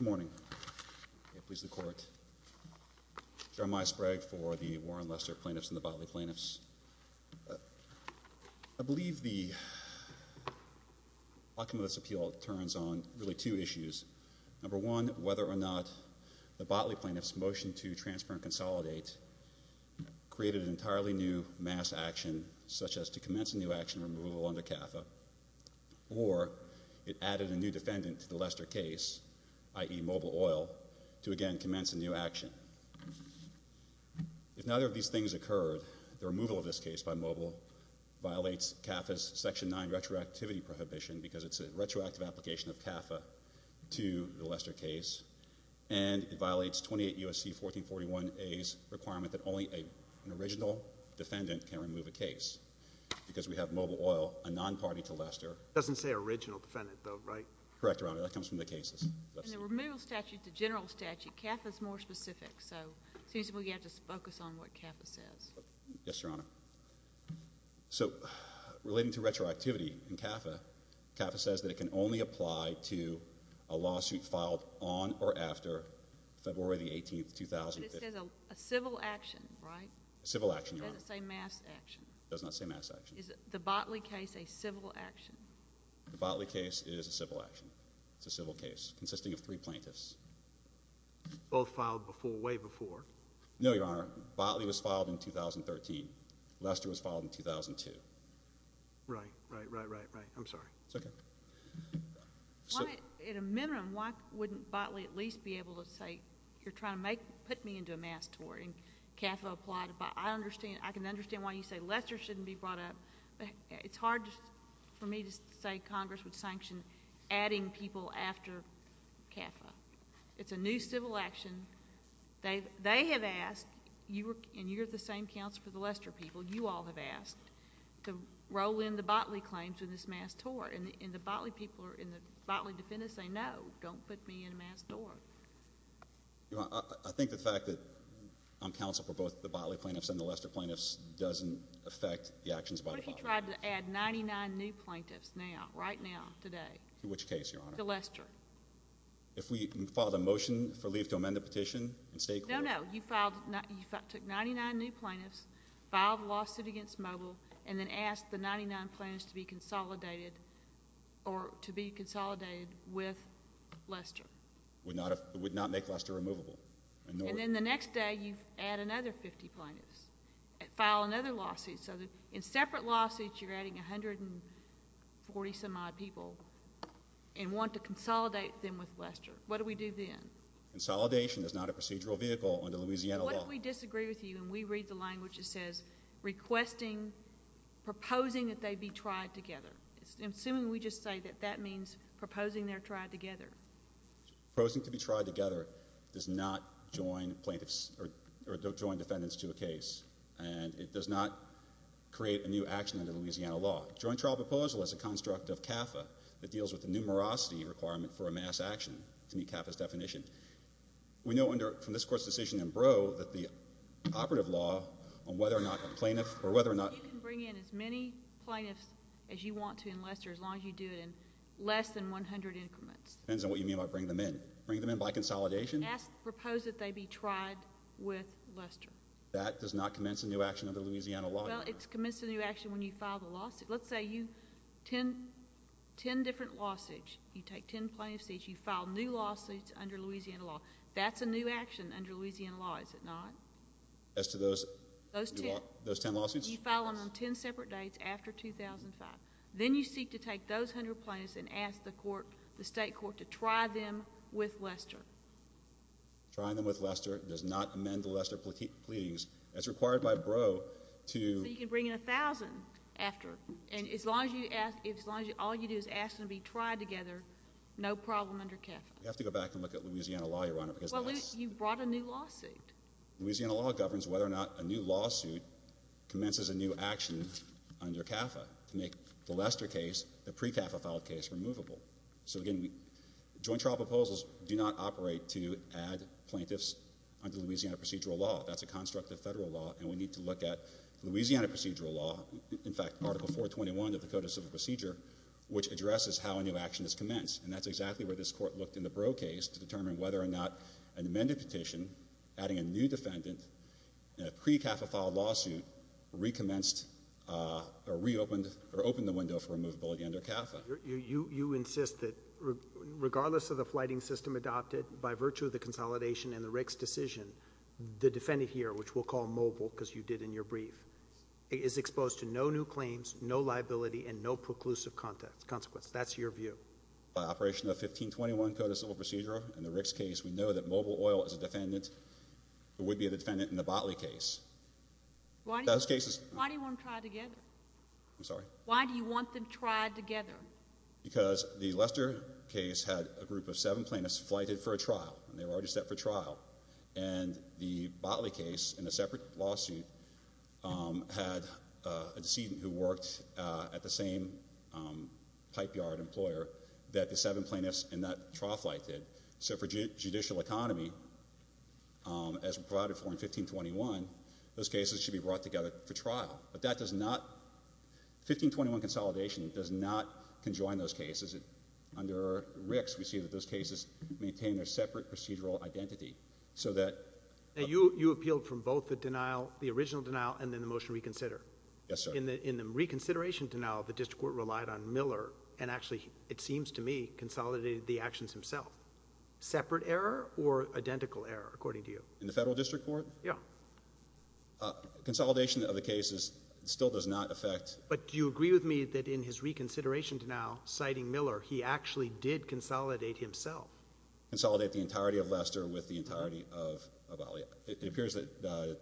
Good morning. May it please the court. Jeremiah Sprague for the Warren Lester plaintiffs and I believe the outcome of this appeal turns on really two issues. Number one, whether or not the Botley plaintiffs motion to transfer and consolidate created an entirely new mass action such as to commence a new action removal under CAFA or it added a new defendant to the Lester case, i.e. Mobil Oil, to again commence a new action. If neither of these things occurred, the removal of this case by Mobil Oil would have been a complete failure. The removal of Mobil Oil violates CAFA's section 9 retroactivity prohibition because it's a retroactive application of CAFA to the Lester case and it violates 28 U.S.C. 1441A's requirement that only an original defendant can remove a case because we have Mobil Oil, a non-party to Lester. It doesn't say original defendant though, right? Correct, Your Honor. That comes from the cases. In the removal statute, the general statute, CAFA's more specific so it seems we have to focus on what CAFA says. Yes, Your Honor. So relating to retroactivity in CAFA, CAFA says that it can only apply to a lawsuit filed on or after February the 18th, 2015. But it says a civil action, right? A civil action, Your Honor. Does it say mass action? It does not say mass action. Is the Botley case a civil action? The Botley case is a civil action. It's a civil case consisting of three plaintiffs. Both filed before, way before? No, Your Honor. Botley was filed in 2013. Lester was filed in 2002. Right, right, right, right, right. I'm sorry. It's okay. Why, in a minimum, why wouldn't Botley at least be able to say, you're trying to put me into a mass tort and CAFA applied, but I can understand why you say Lester shouldn't be brought up. It's hard for me to say Congress would sanction adding people after CAFA. It's a new civil action. They have asked, and you're the same counsel for the Lester people, you all have asked, to roll in the Botley claims in this mass tort. And the Botley people or the Botley defendants say, no, don't put me in a mass tort. I think the fact that I'm counsel for both the Botley plaintiffs and the Lester plaintiffs doesn't affect the actions by the Botley plaintiffs. What if you tried to add 99 new plaintiffs now, right now, today? To Lester. If we filed a motion for leave to amend the petition and state clearance? No, no. You filed, you took 99 new plaintiffs, filed a lawsuit against Mobil, and then asked the 99 plaintiffs to be consolidated or to be consolidated with Lester. Would not make Lester removable. And then the next day you add another 50 plaintiffs, file another lawsuit so that in separate lawsuits you're adding 140 some odd people and want to consolidate them with Lester. What do we do then? Consolidation is not a procedural vehicle under Louisiana law. What if we disagree with you and we read the language that says, requesting, proposing that they be tried together? Assuming we just say that that means proposing they're tried together. Proposing to be tried together does not join plaintiffs or join defendants to a case. And it does not create a new action under Louisiana law. Joint trial proposal is a construct of CAFA that deals with the numerosity requirement for a mass action to meet CAFA's definition. We know from this Court's decision in Brough that the operative law on whether or not a plaintiff or whether or not You can bring in as many plaintiffs as you want to in Lester as long as you do it in less than 100 increments. Depends on what you mean by bring them in. Bring them in by consolidation? Propose that they be tried with Lester. That does not commence a new action under Louisiana law, does it? Well, it's commenced a new action when you file the lawsuit. Let's say you, 10 different lawsuits, you take 10 plaintiffs each, you file new lawsuits under Louisiana law. That's a new action under Louisiana law, is it not? As to those 10 lawsuits? You file them on 10 separate dates after 2005. Then you seek to take those 100 plaintiffs and ask the state court to try them with Lester. Trying them with Lester does not amend the Lester pleadings. That's required by Brough to So you can bring in 1,000 after. And as long as all you do is ask them to be tried together, no problem under CAFA. We have to go back and look at Louisiana law, Your Honor, because that's Well, you brought a new lawsuit. Louisiana law governs whether or not a new lawsuit commences a new action under CAFA to make the Lester case, the pre-CAFA filed case, removable. So again, joint trial proposals do not operate to add plaintiffs under Louisiana procedural law. That's a construct of federal law, and we need to look at Louisiana procedural law, in fact, Article 421 of the Code of Civil Procedure, which addresses how a new action is commenced. And that's exactly where this Court looked in the Brough case to determine whether or not an amended petition adding a new defendant in a pre-CAFA filed lawsuit recommenced or reopened or opened the window for removability under CAFA. You insist that regardless of the flighting system adopted by virtue of the consolidation in the Rick's decision, the defendant here, which we'll call mobile because you did in your brief, is exposed to no new claims, no liability, and no preclusive consequence. That's your view. By operation of 1521 Code of Civil Procedure in the Rick's case, we know that mobile oil is a defendant who would be a defendant in the Botley case. Why do you want them tried together? Because the Lester case had a group of seven plaintiffs flighted for a trial, and they were already set for trial. And the Botley case, in a separate lawsuit, had a decedent who worked at the same pipeyard employer that the seven plaintiffs in that trial flight did. So for judicial economy, as we provided for in 1521, those cases should be brought together for trial. But that does not, 1521 consolidation does not conjoin those cases. Under Rick's, we see that those cases maintain their separate procedural identity. You appealed from both the original denial and then the motion to reconsider. Yes, sir. In the reconsideration denial, the district court relied on Miller, and actually, it seems to me, consolidated the actions himself. Separate error or identical error, according to you? In the federal district court? Yeah. Consolidation of the cases still does not affect. But do you agree with me that in his reconsideration denial, citing Miller, he actually did consolidate himself? Consolidate the entirety of Lester with the entirety of Botley. It appears that the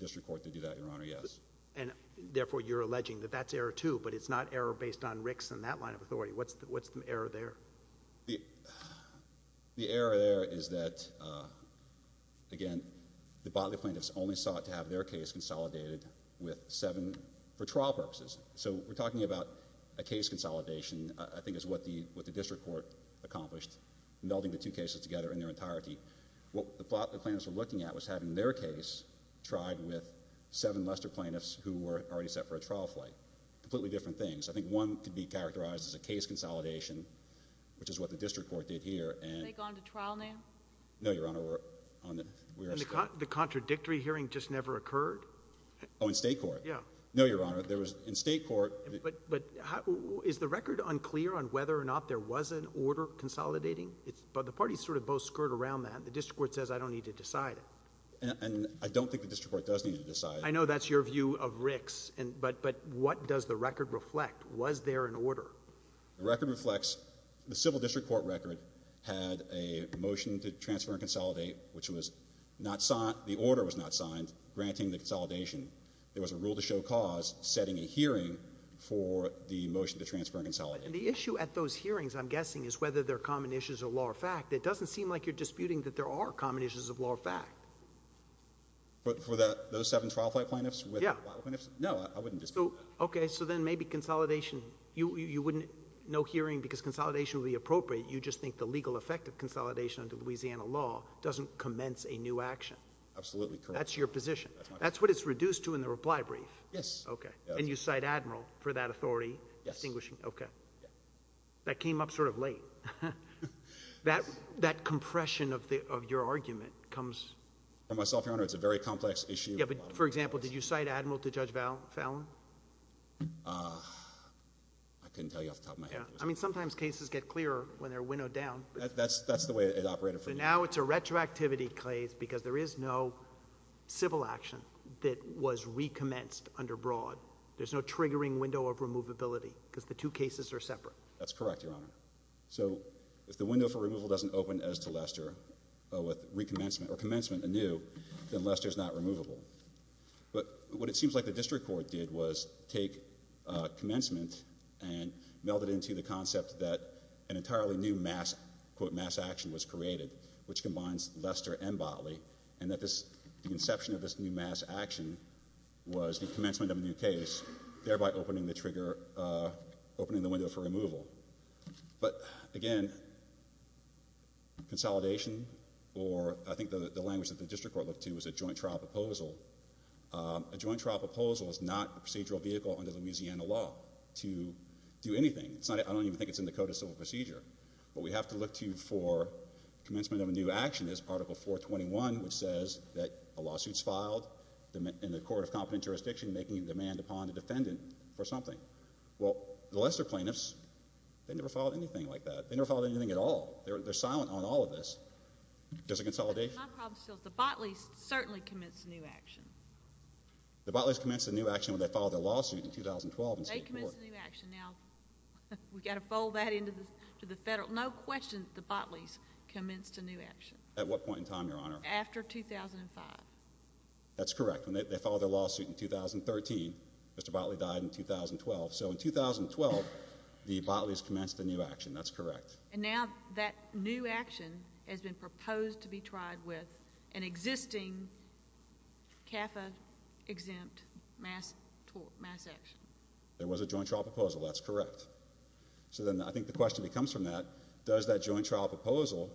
district court did do that, Your Honor, yes. And therefore, you're alleging that that's error two, but it's not error based on Rick's and that line of authority. What's the error there? The error there is that, again, the Botley plaintiffs only sought to have their case consolidated with seven for trial purposes. So we're talking about a case consolidation, I think, is what the district court accomplished. Melding the two cases together in their entirety. What the plaintiffs were looking at was having their case tried with seven Lester plaintiffs who were already set for a trial flight. Completely different things. I think one could be characterized as a case consolidation, which is what the district court did here. Have they gone to trial now? No, Your Honor. The contradictory hearing just never occurred? Oh, in state court? Yeah. No, Your Honor. But is the record unclear on whether or not there was an order consolidating? But the parties sort of both skirt around that. The district court says I don't need to decide it. And I don't think the district court does need to decide it. I know that's your view of Rick's. But what does the record reflect? Was there an order? The record reflects the civil district court record had a motion to transfer and consolidate, which was not signed. The order was not signed granting the consolidation. There was a rule to show cause setting a hearing for the motion to transfer and consolidate. And the issue at those hearings, I'm guessing, is whether they're common issues of law or fact. It doesn't seem like you're disputing that there are common issues of law or fact. But for those seven trial flight plaintiffs? Yeah. No, I wouldn't dispute that. Okay. So then maybe consolidation, you wouldn't know hearing because consolidation would be appropriate. You just think the legal effect of consolidation under Louisiana law doesn't commence a new action. Absolutely correct. That's your position. That's what it's reduced to in the reply brief. Yes. Okay. And you cite Admiral for that authority. Yes. Okay. That came up sort of late. That compression of your argument comes. For myself, Your Honor, it's a very complex issue. Yeah, but, for example, did you cite Admiral to Judge Fallon? I couldn't tell you off the top of my head. That's the way it operated for me. But now it's a retroactivity case because there is no civil action that was recommenced under Broad. There's no triggering window of removability because the two cases are separate. That's correct, Your Honor. So if the window for removal doesn't open as to Lester with recommencement or commencement anew, then Lester's not removable. But what it seems like the district court did was take commencement and meld it into the concept that an entirely new mass action was created, which combines Lester and Botley, and that the inception of this new mass action was the commencement of a new case, thereby opening the window for removal. But, again, consolidation, or I think the language that the district court looked to was a joint trial proposal. A joint trial proposal is not a procedural vehicle under Louisiana law to do anything. I don't even think it's in the Code of Civil Procedure. What we have to look to for commencement of a new action is Article 421, which says that a lawsuit's filed in the Court of Competent Jurisdiction making a demand upon a defendant for something. Well, the Lester plaintiffs, they never filed anything like that. They never filed anything at all. They're silent on all of this. Does it consolidate? My problem still is the Botleys certainly commenced a new action. The Botleys commenced a new action when they filed their lawsuit in 2012 in State Court. They commenced a new action. Now, we've got to fold that into the federal. No question the Botleys commenced a new action. At what point in time, Your Honor? After 2005. That's correct. When they filed their lawsuit in 2013, Mr. Botley died in 2012. So in 2012, the Botleys commenced a new action. That's correct. And now that new action has been proposed to be tried with an existing CAFA-exempt mass action. There was a joint trial proposal. That's correct. So then I think the question that comes from that, does that joint trial proposal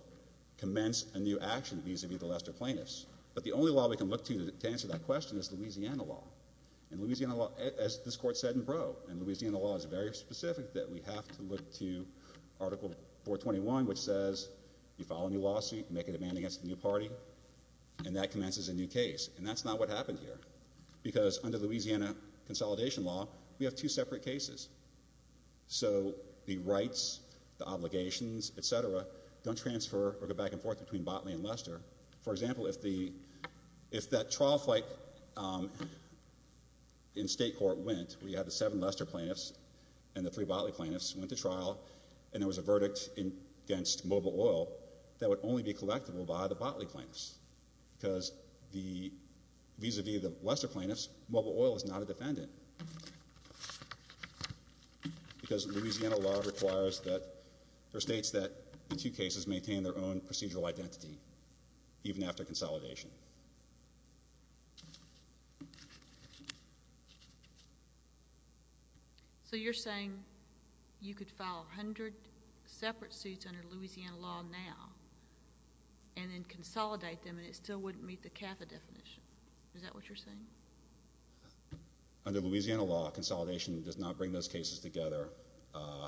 commence a new action vis-a-vis the Lester plaintiffs? But the only law we can look to to answer that question is Louisiana law. And Louisiana law, as this Court said in Brough, and Louisiana law is very specific that we have to look to Article 421, which says you file a new lawsuit, make a demand against a new party, and that commences a new case. And that's not what happened here. Because under Louisiana consolidation law, we have two separate cases. So the rights, the obligations, et cetera, don't transfer or go back and forth between Botley and Lester. For example, if that trial fight in state court went, we have the seven Lester plaintiffs and the three Botley plaintiffs went to trial and there was a verdict against Mobile Oil that would only be collectible by the Botley plaintiffs. Because vis-a-vis the Lester plaintiffs, Mobile Oil is not a defendant. Because Louisiana law requires that, or states that the two cases maintain their own procedural identity, even after consolidation. So you're saying you could file 100 separate suits under Louisiana law now and then consolidate them and it still wouldn't meet the CAFA definition. Is that what you're saying? Under Louisiana law, consolidation does not bring those cases together.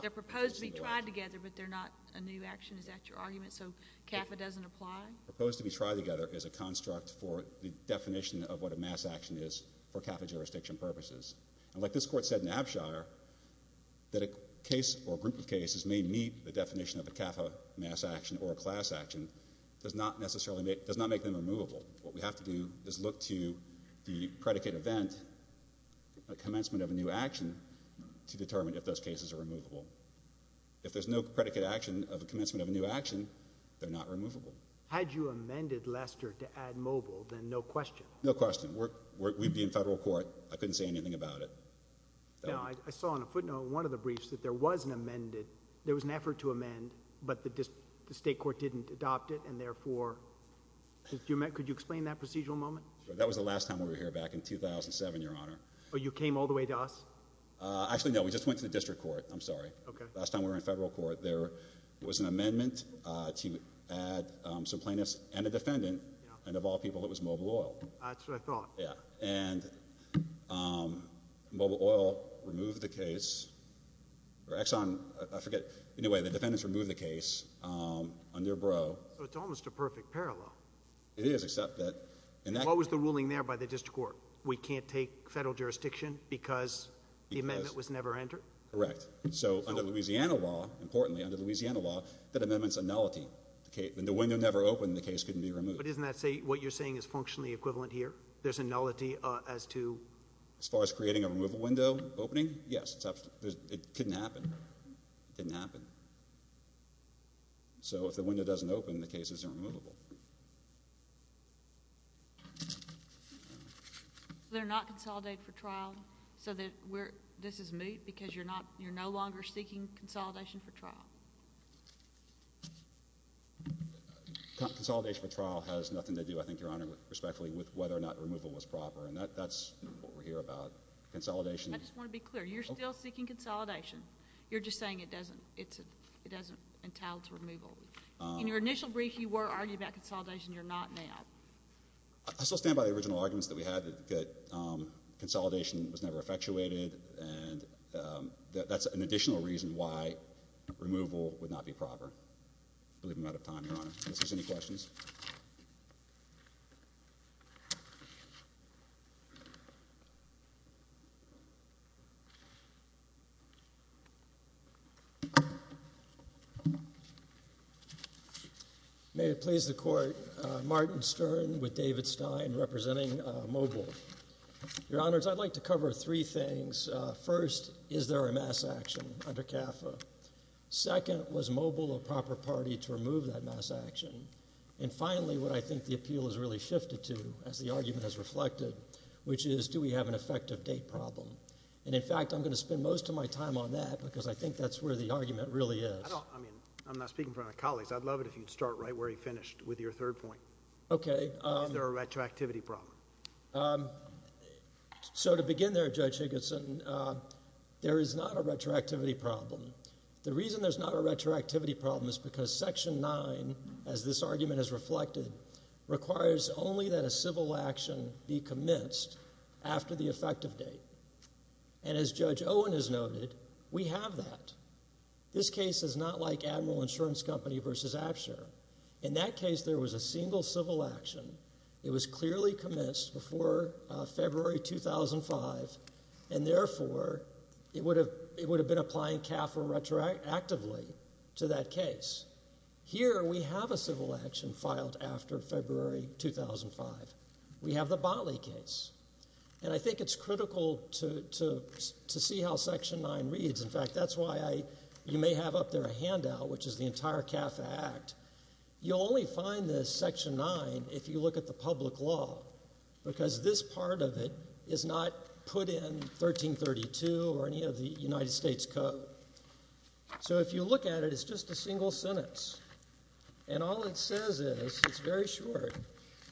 They're proposed to be tried together, but they're not a new action. Is that your argument? So CAFA doesn't apply? Proposed to be tried together is a construct for the definition of what a mass action is for CAFA jurisdiction purposes. And like this court said in Abshire, that a case or group of cases may meet the definition of a CAFA mass action or a class action does not necessarily make them removable. What we have to do is look to the predicate event, a commencement of a new action, to determine if those cases are removable. If there's no predicate action of a commencement of a new action, they're not removable. Had you amended Lester to add Mobile, then no question. No question. We'd be in federal court. I couldn't say anything about it. Now, I saw on a footnote in one of the briefs that there was an amended, there was an effort to amend, but the state court didn't adopt it, and therefore, could you explain that procedural moment? That was the last time we were here back in 2007, Your Honor. Oh, you came all the way to us? Actually, no. We just went to the district court. I'm sorry. Last time we were in federal court, there was an amendment to add some plaintiffs and a defendant, and of all people it was Mobile Oil. That's what I thought. Yeah. And Mobile Oil removed the case, or Exxon, I forget. Anyway, the defendants removed the case under Brough. So it's almost a perfect parallel. It is, except that in that case. What was the ruling there by the district court? We can't take federal jurisdiction because the amendment was never entered? Correct. So under Louisiana law, importantly, under Louisiana law, that amendment's a nullity. When the window never opened, the case couldn't be removed. But isn't that what you're saying is functionally equivalent here? There's a nullity as to... As far as creating a removal window opening, yes. It couldn't happen. It didn't happen. So if the window doesn't open, the case isn't removable. They're not consolidated for trial, so this is moot because you're no longer seeking consolidation for trial. Consolidation for trial has nothing to do, I think, Your Honor, respectfully, with whether or not removal was proper. And that's what we're here about. Consolidation... I just want to be clear. You're still seeking consolidation. You're just saying it doesn't entail its removal. In your initial brief, you were arguing about consolidation. You're not now. I still stand by the original arguments that we had, that consolidation was never effectuated, and that's an additional reason why removal would not be proper. I believe I'm out of time, Your Honor. Unless there's any questions. May it please the Court. Martin Stern with David Stein representing Mobile. Your Honors, I'd like to cover three things. First, is there a mass action under CAFA? Second, was Mobile a proper party to remove that mass action? And finally, what I think the appeal has really shifted to, as the argument has reflected, which is do we have an effective date problem? And, in fact, I'm going to spend most of my time on that. Because I think that's where the argument really is. I'm not speaking for my colleagues. I'd love it if you'd start right where you finished with your third point. Okay. Is there a retroactivity problem? To begin there, Judge Higginson, there is not a retroactivity problem. The reason there's not a retroactivity problem is because Section 9, as this argument has reflected, requires only that a civil action be commenced after the effective date. And as Judge Owen has noted, we have that. This case is not like Admiral Insurance Company v. Absher. In that case, there was a single civil action. It was clearly commenced before February 2005, and, therefore, it would have been applying CAFA retroactively to that case. Here, we have a civil action filed after February 2005. We have the Botley case. And I think it's critical to see how Section 9 reads. In fact, that's why you may have up there a handout, which is the entire CAFA Act. You'll only find this Section 9 if you look at the public law, because this part of it is not put in 1332 or any of the United States Code. So if you look at it, it's just a single sentence. And all it says is, it's very short,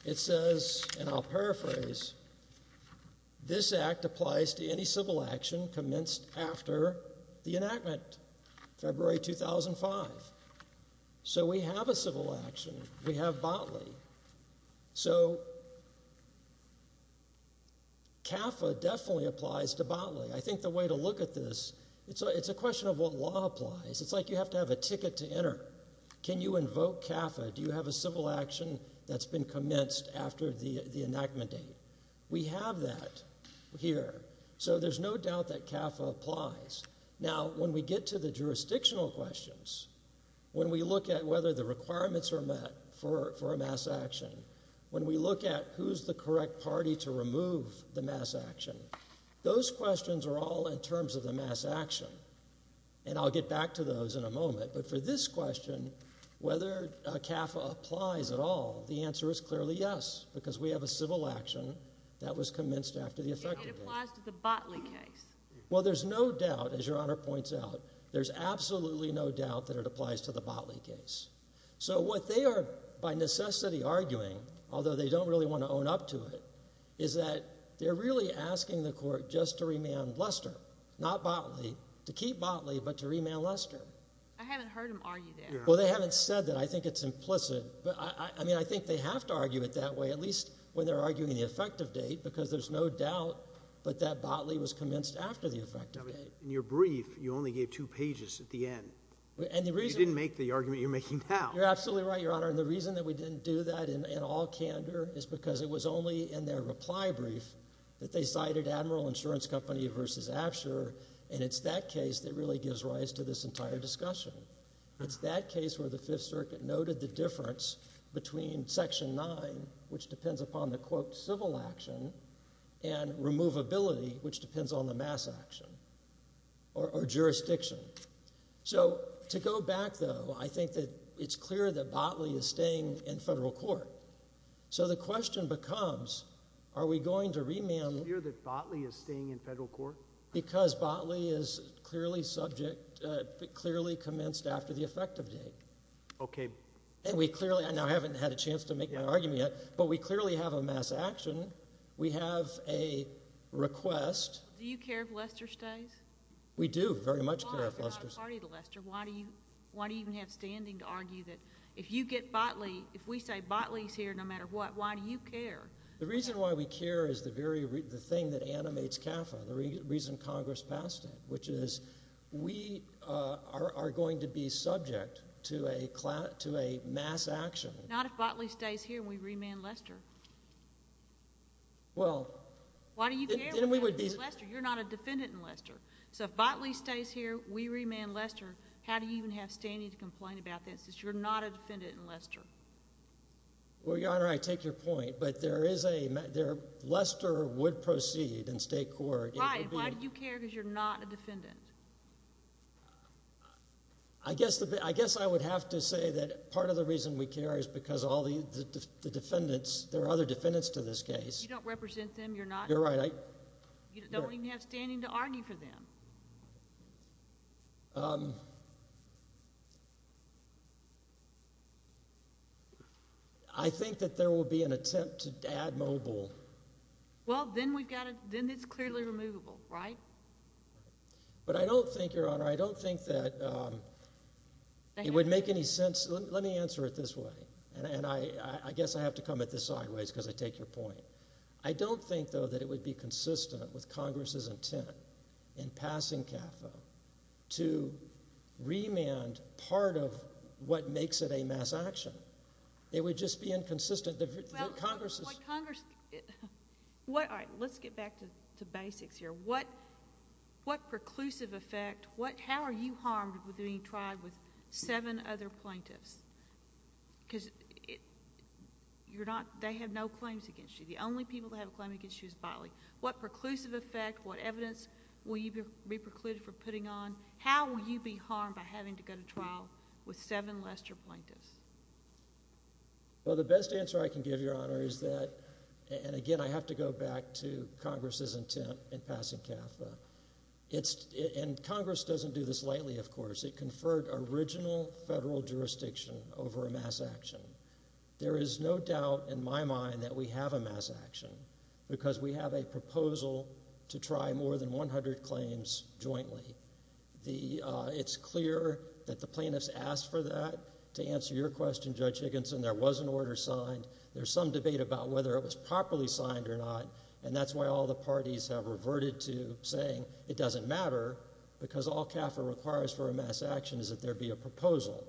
it says, and I'll paraphrase, this Act applies to any civil action commenced after the enactment, February 2005. So we have a civil action. We have Botley. So CAFA definitely applies to Botley. I think the way to look at this, it's a question of what law applies. It's like you have to have a ticket to enter. Can you invoke CAFA? Do you have a civil action that's been commenced after the enactment date? We have that here. So there's no doubt that CAFA applies. Now, when we get to the jurisdictional questions, when we look at whether the requirements are met for a mass action, when we look at who's the correct party to remove the mass action, those questions are all in terms of the mass action. And I'll get back to those in a moment. But for this question, whether CAFA applies at all, the answer is clearly yes, because we have a civil action that was commenced after the effective date. It applies to the Botley case. Well, there's no doubt, as Your Honor points out, there's absolutely no doubt that it applies to the Botley case. So what they are, by necessity, arguing, although they don't really want to own up to it, is that they're really asking the Court just to remand Lester, not Botley, to keep Botley but to remand Lester. I haven't heard them argue that. Well, they haven't said that. I think it's implicit. But, I mean, I think they have to argue it that way, at least when they're arguing the effective date, because there's no doubt that that Botley was commenced after the effective date. In your brief, you only gave two pages at the end. You didn't make the argument you're making now. You're absolutely right, Your Honor. And the reason that we didn't do that in all candor is because it was only in their reply brief that they cited Admiral Insurance Company v. Absher. And it's that case that really gives rise to this entire discussion. It's that case where the Fifth Circuit noted the difference between Section 9, which depends upon the, quote, civil action, and removability, which depends on the mass action or jurisdiction. So to go back, though, I think that it's clear that Botley is staying in federal court. So the question becomes, are we going to remand— Is it clear that Botley is staying in federal court? Because Botley is clearly subject—clearly commenced after the effective date. Okay. And we clearly—and I haven't had a chance to make my argument yet, but we clearly have a mass action. We have a request. Do you care if Lester stays? We do very much care if Lester stays. Why are you not a party to Lester? Why do you even have standing to argue that if you get Botley, if we say Botley's here no matter what, why do you care? The reason why we care is the thing that animates CAFA, the reason Congress passed it, which is we are going to be subject to a mass action. Not if Botley stays here and we remand Lester. Well— Why do you care if we remand Lester? You're not a defendant in Lester. So if Botley stays here, we remand Lester, how do you even have standing to complain about that since you're not a defendant in Lester? Well, Your Honor, I take your point, but there is a—Lester would proceed in state court. Right. Why do you care because you're not a defendant? I guess I would have to say that part of the reason we care is because all the defendants— there are other defendants to this case. You don't represent them. You're not— You're right. You don't even have standing to argue for them. I think that there will be an attempt to add mobile. Well, then we've got to—then it's clearly removable, right? But I don't think, Your Honor, I don't think that it would make any sense— Let me answer it this way, and I guess I have to come at this sideways because I take your point. I don't think, though, that it would be consistent with Congress's intent in passing CAFA to remand part of what makes it a mass action. It would just be inconsistent. Well, what Congress—all right, let's get back to basics here. What preclusive effect—how are you harmed with being tried with seven other plaintiffs? Because you're not—they have no claims against you. The only people that have a claim against you is bodily. What preclusive effect, what evidence will you be precluded from putting on? How will you be harmed by having to go to trial with seven Lester plaintiffs? Well, the best answer I can give, Your Honor, is that— and again, I have to go back to Congress's intent in passing CAFA. It's—and Congress doesn't do this lightly, of course. It conferred original federal jurisdiction over a mass action. There is no doubt in my mind that we have a mass action because we have a proposal to try more than 100 claims jointly. It's clear that the plaintiffs asked for that. To answer your question, Judge Higginson, there was an order signed. There's some debate about whether it was properly signed or not, and that's why all the parties have reverted to saying it doesn't matter because all CAFA requires for a mass action is that there be a proposal.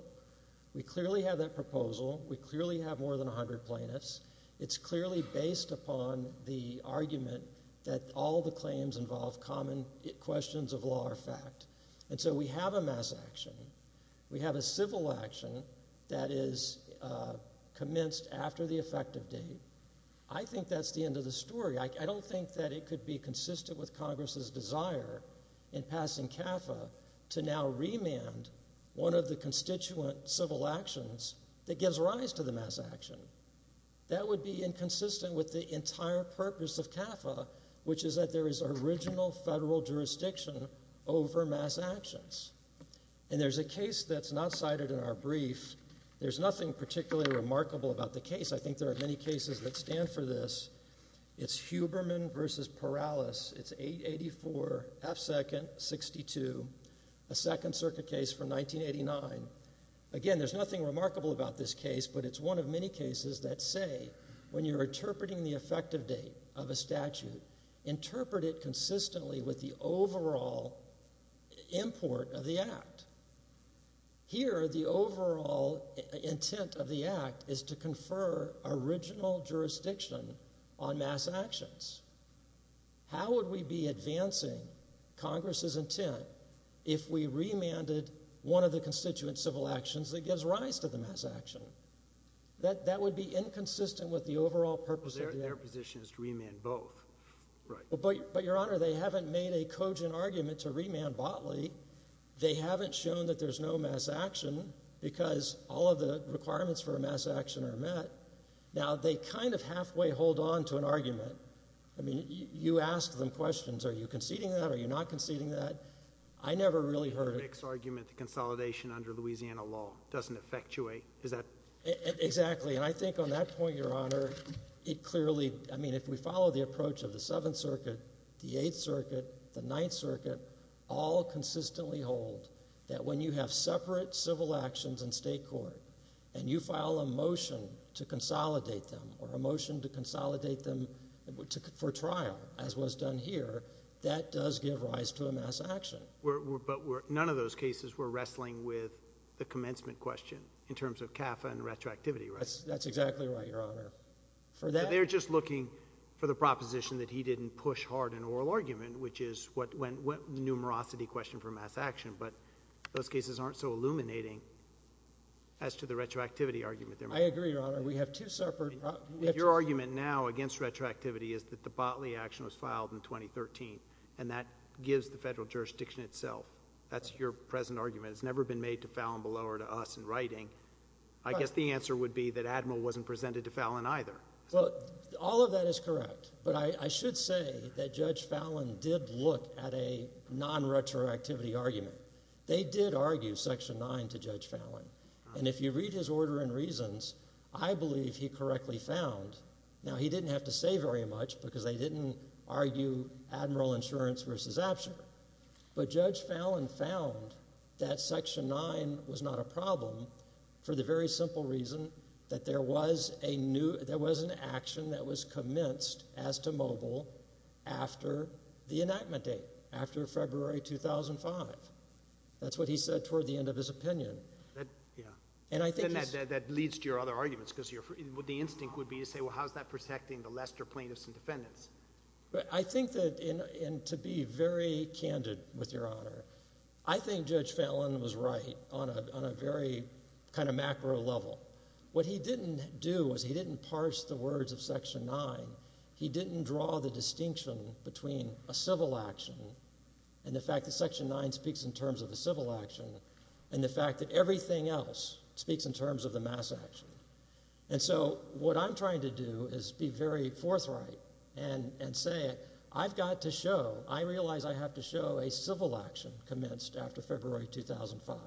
We clearly have that proposal. We clearly have more than 100 plaintiffs. It's clearly based upon the argument that all the claims involve common questions of law or fact. And so we have a mass action. We have a civil action that is commenced after the effective date. I think that's the end of the story. I don't think that it could be consistent with Congress's desire in passing CAFA to now remand one of the constituent civil actions that gives rise to the mass action. That would be inconsistent with the entire purpose of CAFA, which is that there is original federal jurisdiction over mass actions. And there's a case that's not cited in our brief. There's nothing particularly remarkable about the case. I think there are many cases that stand for this. It's Huberman v. Perales. It's 884 F. 2nd, 62, a Second Circuit case from 1989. Again, there's nothing remarkable about this case, but it's one of many cases that say when you're interpreting the effective date of a statute, interpret it consistently with the overall import of the act. Here, the overall intent of the act is to confer original jurisdiction on mass actions. How would we be advancing Congress's intent if we remanded one of the constituent civil actions that gives rise to the mass action? That would be inconsistent with the overall purpose of the act. Their position is to remand both. But, Your Honor, they haven't made a cogent argument to remand Botley. They haven't shown that there's no mass action because all of the requirements for a mass action are met. Now, they kind of halfway hold on to an argument. I mean, you ask them questions. Are you conceding that? Are you not conceding that? I never really heard it. The mixed argument, the consolidation under Louisiana law doesn't effectuate. Exactly, and I think on that point, Your Honor, it clearly— I mean, if we follow the approach of the Seventh Circuit, the Eighth Circuit, the Ninth Circuit, all consistently hold that when you have separate civil actions in state court and you file a motion to consolidate them or a motion to consolidate them for trial, as was done here, that does give rise to a mass action. But none of those cases were wrestling with the commencement question in terms of CAFA and retroactivity, right? That's exactly right, Your Honor. They're just looking for the proposition that he didn't push hard an oral argument, which is what numerosity question for mass action, but those cases aren't so illuminating as to the retroactivity argument. I agree, Your Honor. We have two separate— Your argument now against retroactivity is that the Botley action was filed in 2013, and that gives the federal jurisdiction itself. That's your present argument. It's never been made to Fallin below or to us in writing. I guess the answer would be that Admiral wasn't presented to Fallin either. All of that is correct, but I should say that Judge Fallin did look at a non-retroactivity argument. They did argue Section 9 to Judge Fallin, and if you read his order and reasons, I believe he correctly found—now, he didn't have to say very much because they didn't argue Admiral Insurance versus Apture, but Judge Fallin found that Section 9 was not a problem for the very simple reason that there was an action that was commenced as to mobile after the enactment date, after February 2005. That's what he said toward the end of his opinion. Then that leads to your other arguments because the instinct would be to say, well, how is that protecting the Lester plaintiffs and defendants? I think that, and to be very candid with Your Honor, I think Judge Fallin was right on a very kind of macro level. What he didn't do was he didn't parse the words of Section 9. He didn't draw the distinction between a civil action and the fact that Section 9 speaks in terms of the civil action and the fact that everything else speaks in terms of the mass action. So what I'm trying to do is be very forthright and say I've got to show— that the civil action commenced after February 2005.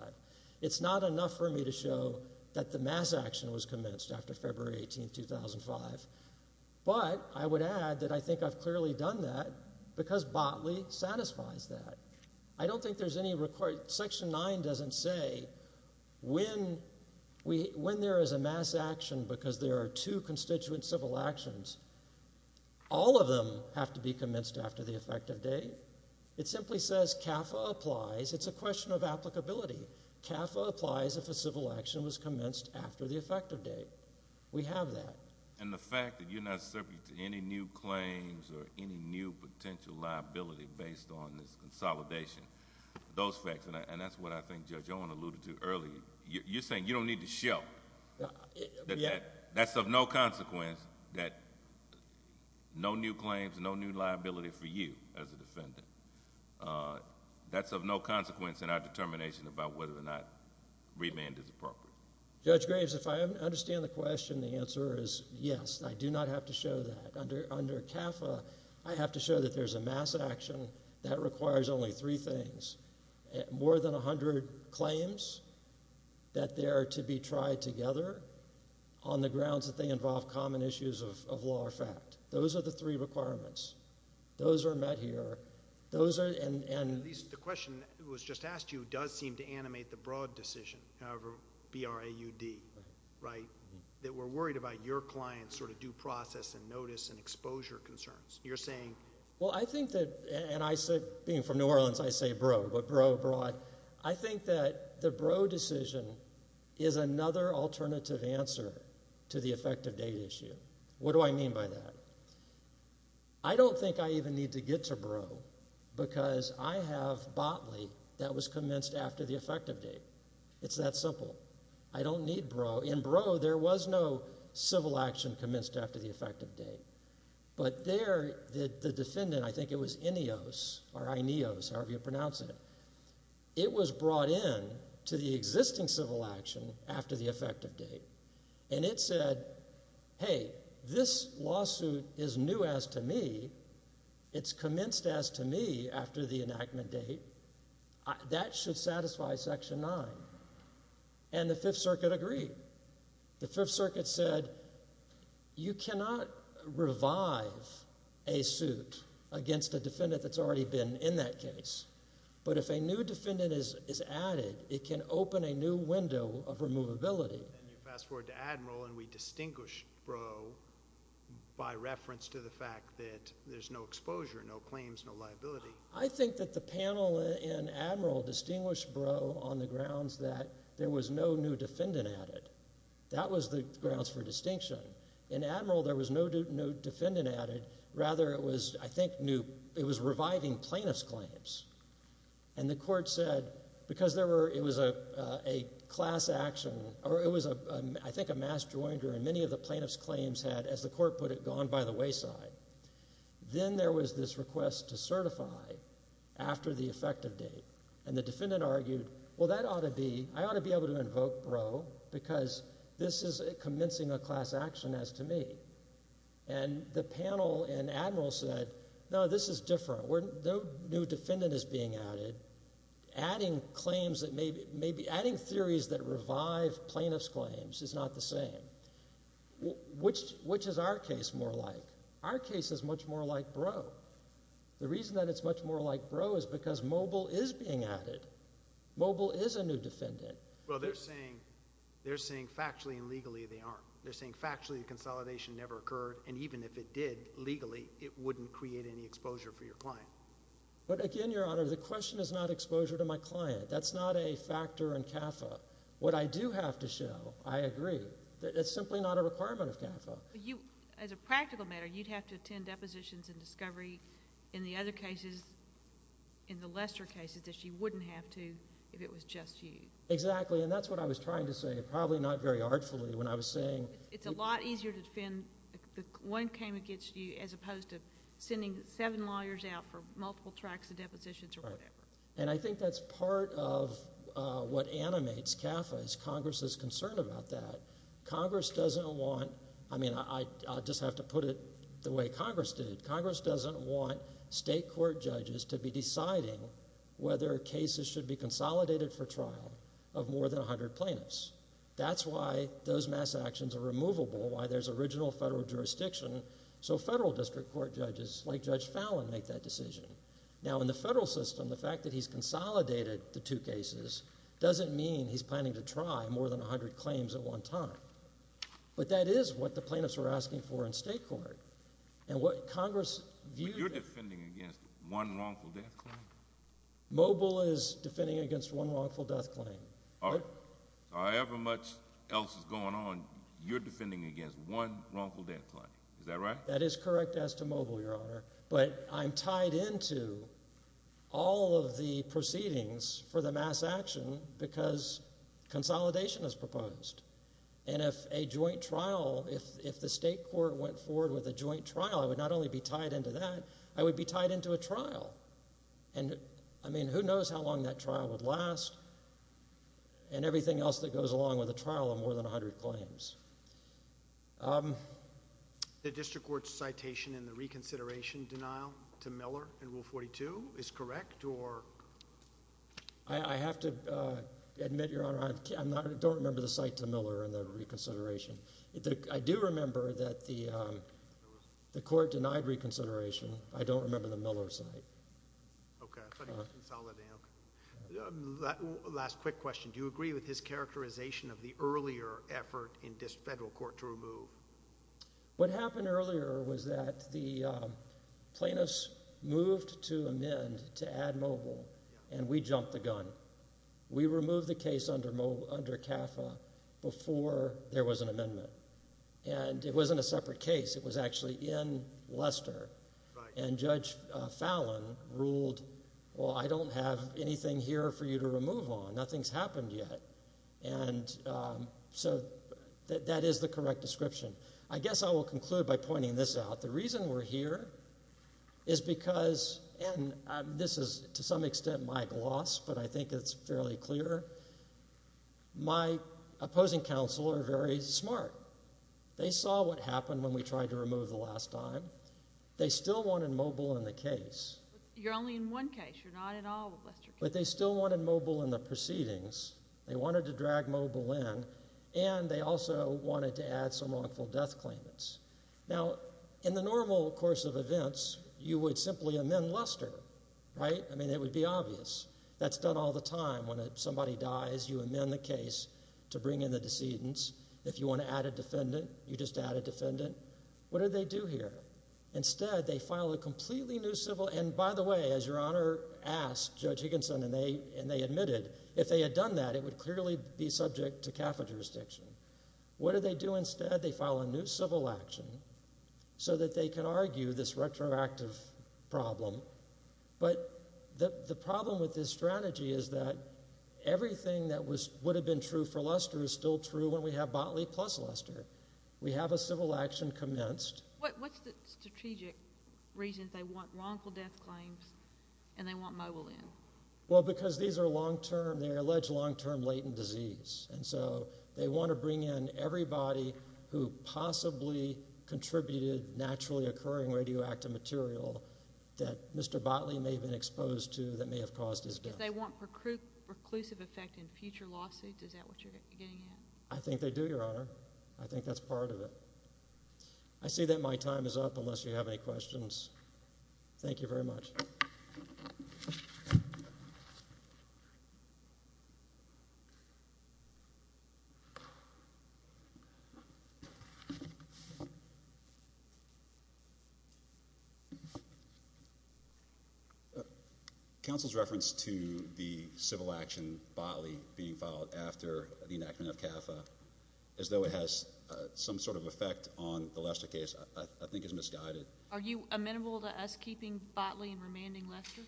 It's not enough for me to show that the mass action was commenced after February 18, 2005, but I would add that I think I've clearly done that because Botley satisfies that. I don't think there's any—Section 9 doesn't say when there is a mass action because there are two constituent civil actions, all of them have to be commenced after the effective date. It simply says CAFA applies. It's a question of applicability. CAFA applies if a civil action was commenced after the effective date. We have that. And the fact that you're not subject to any new claims or any new potential liability based on this consolidation, those facts, and that's what I think Judge Owen alluded to earlier. You're saying you don't need to show that that's of no consequence, that no new claims, no new liability for you as a defendant. That's of no consequence in our determination about whether or not remand is appropriate. Judge Graves, if I understand the question, the answer is yes. I do not have to show that. Under CAFA, I have to show that there's a mass action that requires only three things, more than 100 claims that there are to be tried together on the grounds that they involve common issues of law or fact. Those are the three requirements. Those are met here. The question that was just asked you does seem to animate the broad decision, however, B-R-A-U-D, right? That we're worried about your client's sort of due process and notice and exposure concerns. You're saying? Well, I think that, and being from New Orleans, I say bro, but bro broad. I think that the bro decision is another alternative answer to the effective date issue. What do I mean by that? I don't think I even need to get to bro because I have bodily that was commenced after the effective date. It's that simple. I don't need bro. In bro, there was no civil action commenced after the effective date. But there, the defendant, I think it was Ineos, however you pronounce it, it was brought in to the existing civil action after the effective date. And it said, hey, this lawsuit is new as to me. It's commenced as to me after the enactment date. That should satisfy Section 9. And the Fifth Circuit agreed. The Fifth Circuit said you cannot revive a suit against a defendant that's already been in that case. But if a new defendant is added, it can open a new window of removability. And you fast forward to Admiral and we distinguish bro by reference to the fact that there's no exposure, no claims, no liability. I think that the panel in Admiral distinguished bro on the grounds that there was no new defendant added. That was the grounds for distinction. In Admiral, there was no new defendant added. Rather, it was, I think, new. It was reviving plaintiff's claims. And the court said because it was a class action or it was, I think, a mass jointer, and many of the plaintiff's claims had, as the court put it, gone by the wayside. Then there was this request to certify after the effective date. And the defendant argued, well, that ought to be, I ought to be able to invoke bro because this is commencing a class action as to me. And the panel in Admiral said, no, this is different. No new defendant is being added. Adding claims that may be, adding theories that revive plaintiff's claims is not the same. Which is our case more like? Our case is much more like bro. The reason that it's much more like bro is because mobile is being added. Mobile is a new defendant. Well, they're saying factually and legally they aren't. They're saying factually the consolidation never occurred, and even if it did legally, it wouldn't create any exposure for your client. But again, Your Honor, the question is not exposure to my client. That's not a factor in CAFA. What I do have to show, I agree, that it's simply not a requirement of CAFA. As a practical matter, you'd have to attend depositions and discovery in the other cases, in the lesser cases, that you wouldn't have to if it was just you. Exactly, and that's what I was trying to say. Probably not very artfully when I was saying. It's a lot easier to defend when one came against you as opposed to sending seven lawyers out for multiple tracks of depositions or whatever. And I think that's part of what animates CAFA is Congress's concern about that. Congress doesn't want, I mean, I just have to put it the way Congress did. Congress doesn't want state court judges to be deciding whether cases should be consolidated for trial of more than 100 plaintiffs. That's why those mass actions are removable, why there's original federal jurisdiction, so federal district court judges like Judge Fallin make that decision. Now, in the federal system, the fact that he's consolidated the two cases doesn't mean he's planning to try more than 100 claims at one time. But that is what the plaintiffs were asking for in state court. And what Congress viewed— But you're defending against one wrongful death claim? Mobile is defending against one wrongful death claim. All right. However much else is going on, you're defending against one wrongful death claim. Is that right? That is correct as to mobile, Your Honor. But I'm tied into all of the proceedings for the mass action because consolidation is proposed. And if a joint trial, if the state court went forward with a joint trial, I would not only be tied into that, I would be tied into a trial. And, I mean, who knows how long that trial would last and everything else that goes along with a trial of more than 100 claims. The district court's citation in the reconsideration denial to Miller in Rule 42 is correct or— I have to admit, Your Honor, I don't remember the cite to Miller in the reconsideration. I do remember that the court denied reconsideration. I don't remember the Miller cite. Okay. I thought he was consolidating. Last quick question. Do you agree with his characterization of the earlier effort in this federal court to remove? What happened earlier was that the plaintiffs moved to amend to add mobile, and we jumped the gun. We removed the case under CAFA before there was an amendment. And it wasn't a separate case. It was actually in Leicester. Right. And Judge Fallon ruled, well, I don't have anything here for you to remove on. Nothing's happened yet. And so that is the correct description. I guess I will conclude by pointing this out. The reason we're here is because—and this is, to some extent, my gloss, but I think it's fairly clear. My opposing counsel are very smart. They saw what happened when we tried to remove the last time. They still wanted mobile in the case. You're only in one case. You're not in all of Leicester. But they still wanted mobile in the proceedings. They wanted to drag mobile in, and they also wanted to add some wrongful death claimants. Now, in the normal course of events, you would simply amend Leicester, right? I mean, it would be obvious. That's done all the time. When somebody dies, you amend the case to bring in the decedents. If you want to add a defendant, you just add a defendant. What do they do here? Instead, they file a completely new civil—and by the way, as Your Honor asked Judge Higginson, and they admitted, if they had done that, it would clearly be subject to CAFA jurisdiction. What do they do instead? They file a new civil action so that they can argue this retroactive problem. But the problem with this strategy is that everything that would have been true for Leicester is still true when we have Botley plus Leicester. We have a civil action commenced. What's the strategic reason they want wrongful death claims and they want mobile in? Well, because these are long-term—they're alleged long-term latent disease. And so they want to bring in everybody who possibly contributed naturally occurring radioactive material that Mr. Botley may have been exposed to that may have caused his death. Do they want preclusive effect in future lawsuits? Is that what you're getting at? I think they do, Your Honor. I think that's part of it. I say that my time is up unless you have any questions. Thank you very much. Counsel's reference to the civil action Botley being filed after the enactment of CAFA as though it has some sort of effect on the Leicester case I think is misguided. Are you amenable to us keeping Botley and remanding Leicester?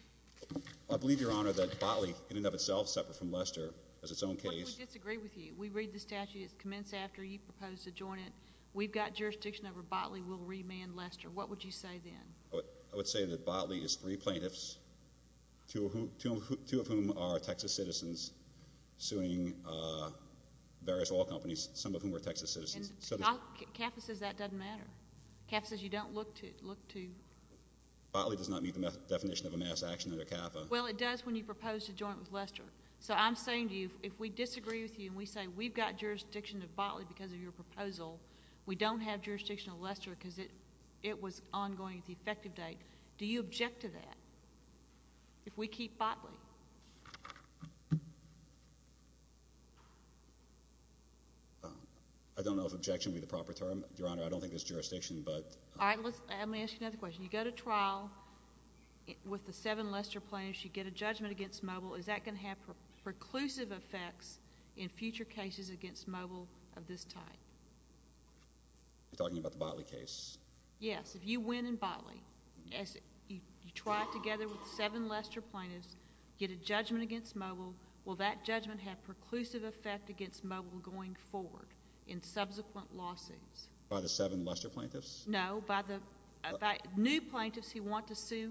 I believe, Your Honor, that Botley in and of itself is separate from Leicester as its own case. What if we disagree with you? We read the statute. It's commenced after you proposed to join it. We've got jurisdiction over Botley. We'll remand Leicester. What would you say then? I would say that Botley is three plaintiffs, two of whom are Texas citizens, suing various oil companies, some of whom are Texas citizens. CAFA says that doesn't matter. CAFA says you don't look to. Botley does not meet the definition of a mass action under CAFA. Well, it does when you propose to join with Leicester. So I'm saying to you if we disagree with you and we say we've got jurisdiction of Botley because of your proposal, we don't have jurisdiction of Leicester because it was ongoing at the effective date, do you object to that if we keep Botley? I don't know if objection would be the proper term, Your Honor. I don't think there's jurisdiction. All right. Let me ask you another question. You go to trial with the seven Leicester plaintiffs. You get a judgment against Mobile. Is that going to have preclusive effects in future cases against Mobile of this type? You're talking about the Botley case? Yes. If you win in Botley, you try together with the seven Leicester plaintiffs, get a judgment against Mobile, will that judgment have preclusive effect against Mobile going forward in subsequent lawsuits? By the seven Leicester plaintiffs? No, by the new plaintiffs who want to sue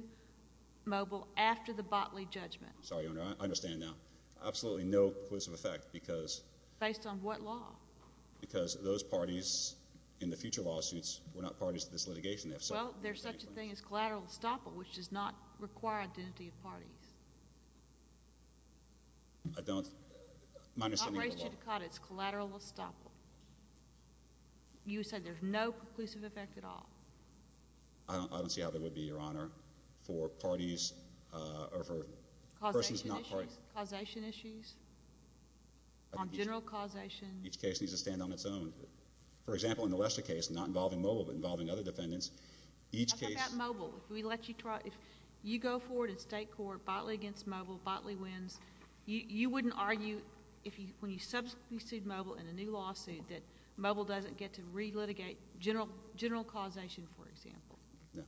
Mobile after the Botley judgment. Sorry, Your Honor. I understand now. Absolutely no preclusive effect because... Based on what law? Because those parties in the future lawsuits were not parties to this litigation. Well, there's such a thing as collateral estoppel, which does not require identity of parties. I don't... I don't raise you to court. It's collateral estoppel. You said there's no preclusive effect at all. I don't see how there would be, Your Honor, for parties or for... Causation issues? On general causation. Each case needs to stand on its own. For example, in the Leicester case, not involving Mobile but involving other defendants, each case... How about Mobile? If we let you try... If you go forward in state court, Botley against Mobile, Botley wins, you wouldn't argue when you substitute Mobile in a new lawsuit that Mobile doesn't get to relitigate general causation, for example? No.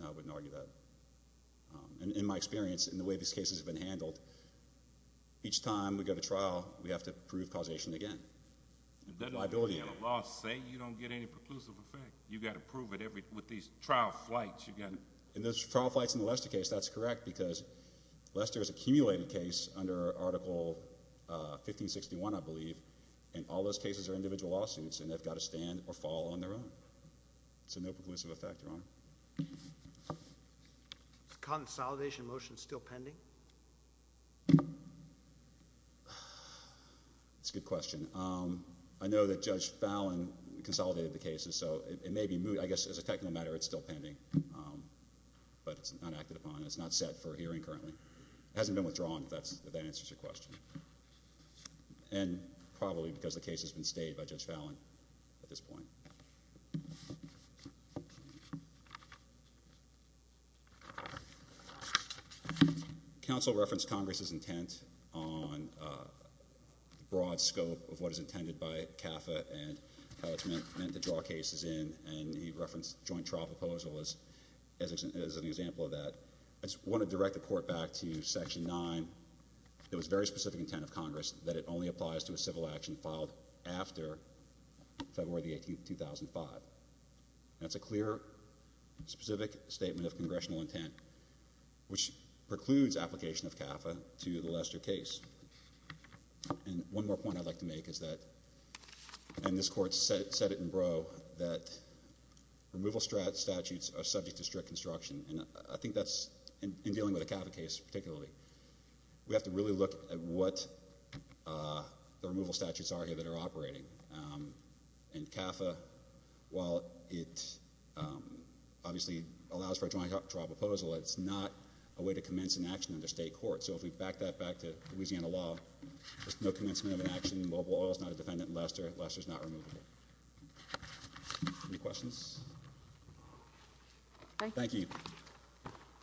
No, I wouldn't argue that. In my experience, in the way these cases have been handled, each time we go to trial, we have to prove causation again. The liability... Laws say you don't get any preclusive effect. You've got to prove it with these trial flights. In those trial flights in the Leicester case, that's correct because Leicester is a cumulated case under Article 1561, I believe, and all those cases are individual lawsuits and they've got to stand or fall on their own. So no preclusive effect, Your Honor. Is the consolidation motion still pending? That's a good question. I know that Judge Fallon consolidated the cases, so it may be moved... I guess as a technical matter, it's still pending, but it's not acted upon. It's not set for hearing currently. It hasn't been withdrawn, if that answers your question. And probably because the case has been stayed by Judge Fallon at this point. Counsel referenced Congress's intent on the broad scope of what is intended by CAFA and how it's meant to draw cases in, and he referenced joint trial proposal as an example of that. I just want to direct the Court back to Section 9. It was very specific intent of Congress that it only applies to a civil action filed after February the 18th, 2005. That's a clear, specific statement of congressional intent, which precludes application of CAFA to the Leicester case. And one more point I'd like to make is that, and this Court said it in Brough, that removal statutes are subject to strict construction, and I think that's, in dealing with a CAFA case particularly, we have to really look at what the removal statutes are here that are operating. And CAFA, while it obviously allows for a joint trial proposal, it's not a way to commence an action under state court. So if we back that back to Louisiana law, there's no commencement of an action in mobile oil. It's not a defendant in Leicester. Leicester's not removable. Any questions? Thank you.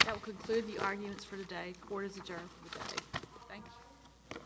That will conclude the arguments for today. Court is adjourned for the day. Thank you. Thank you.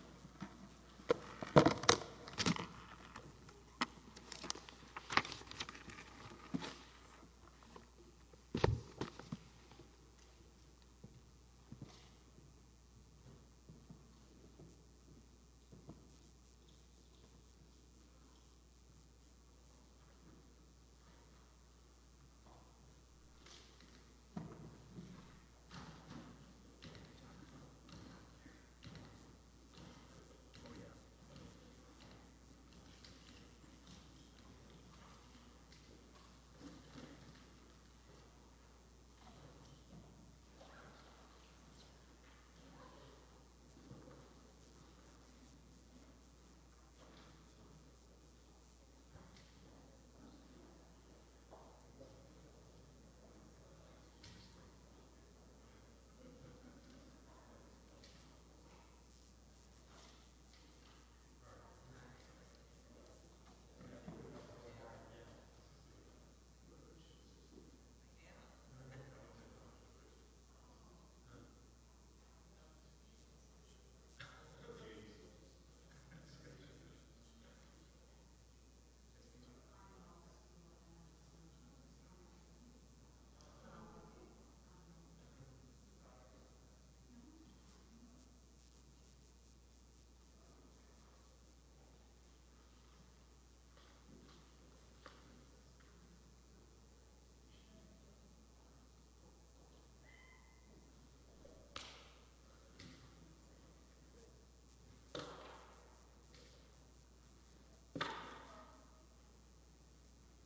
Thank you. Thank you. Thank you.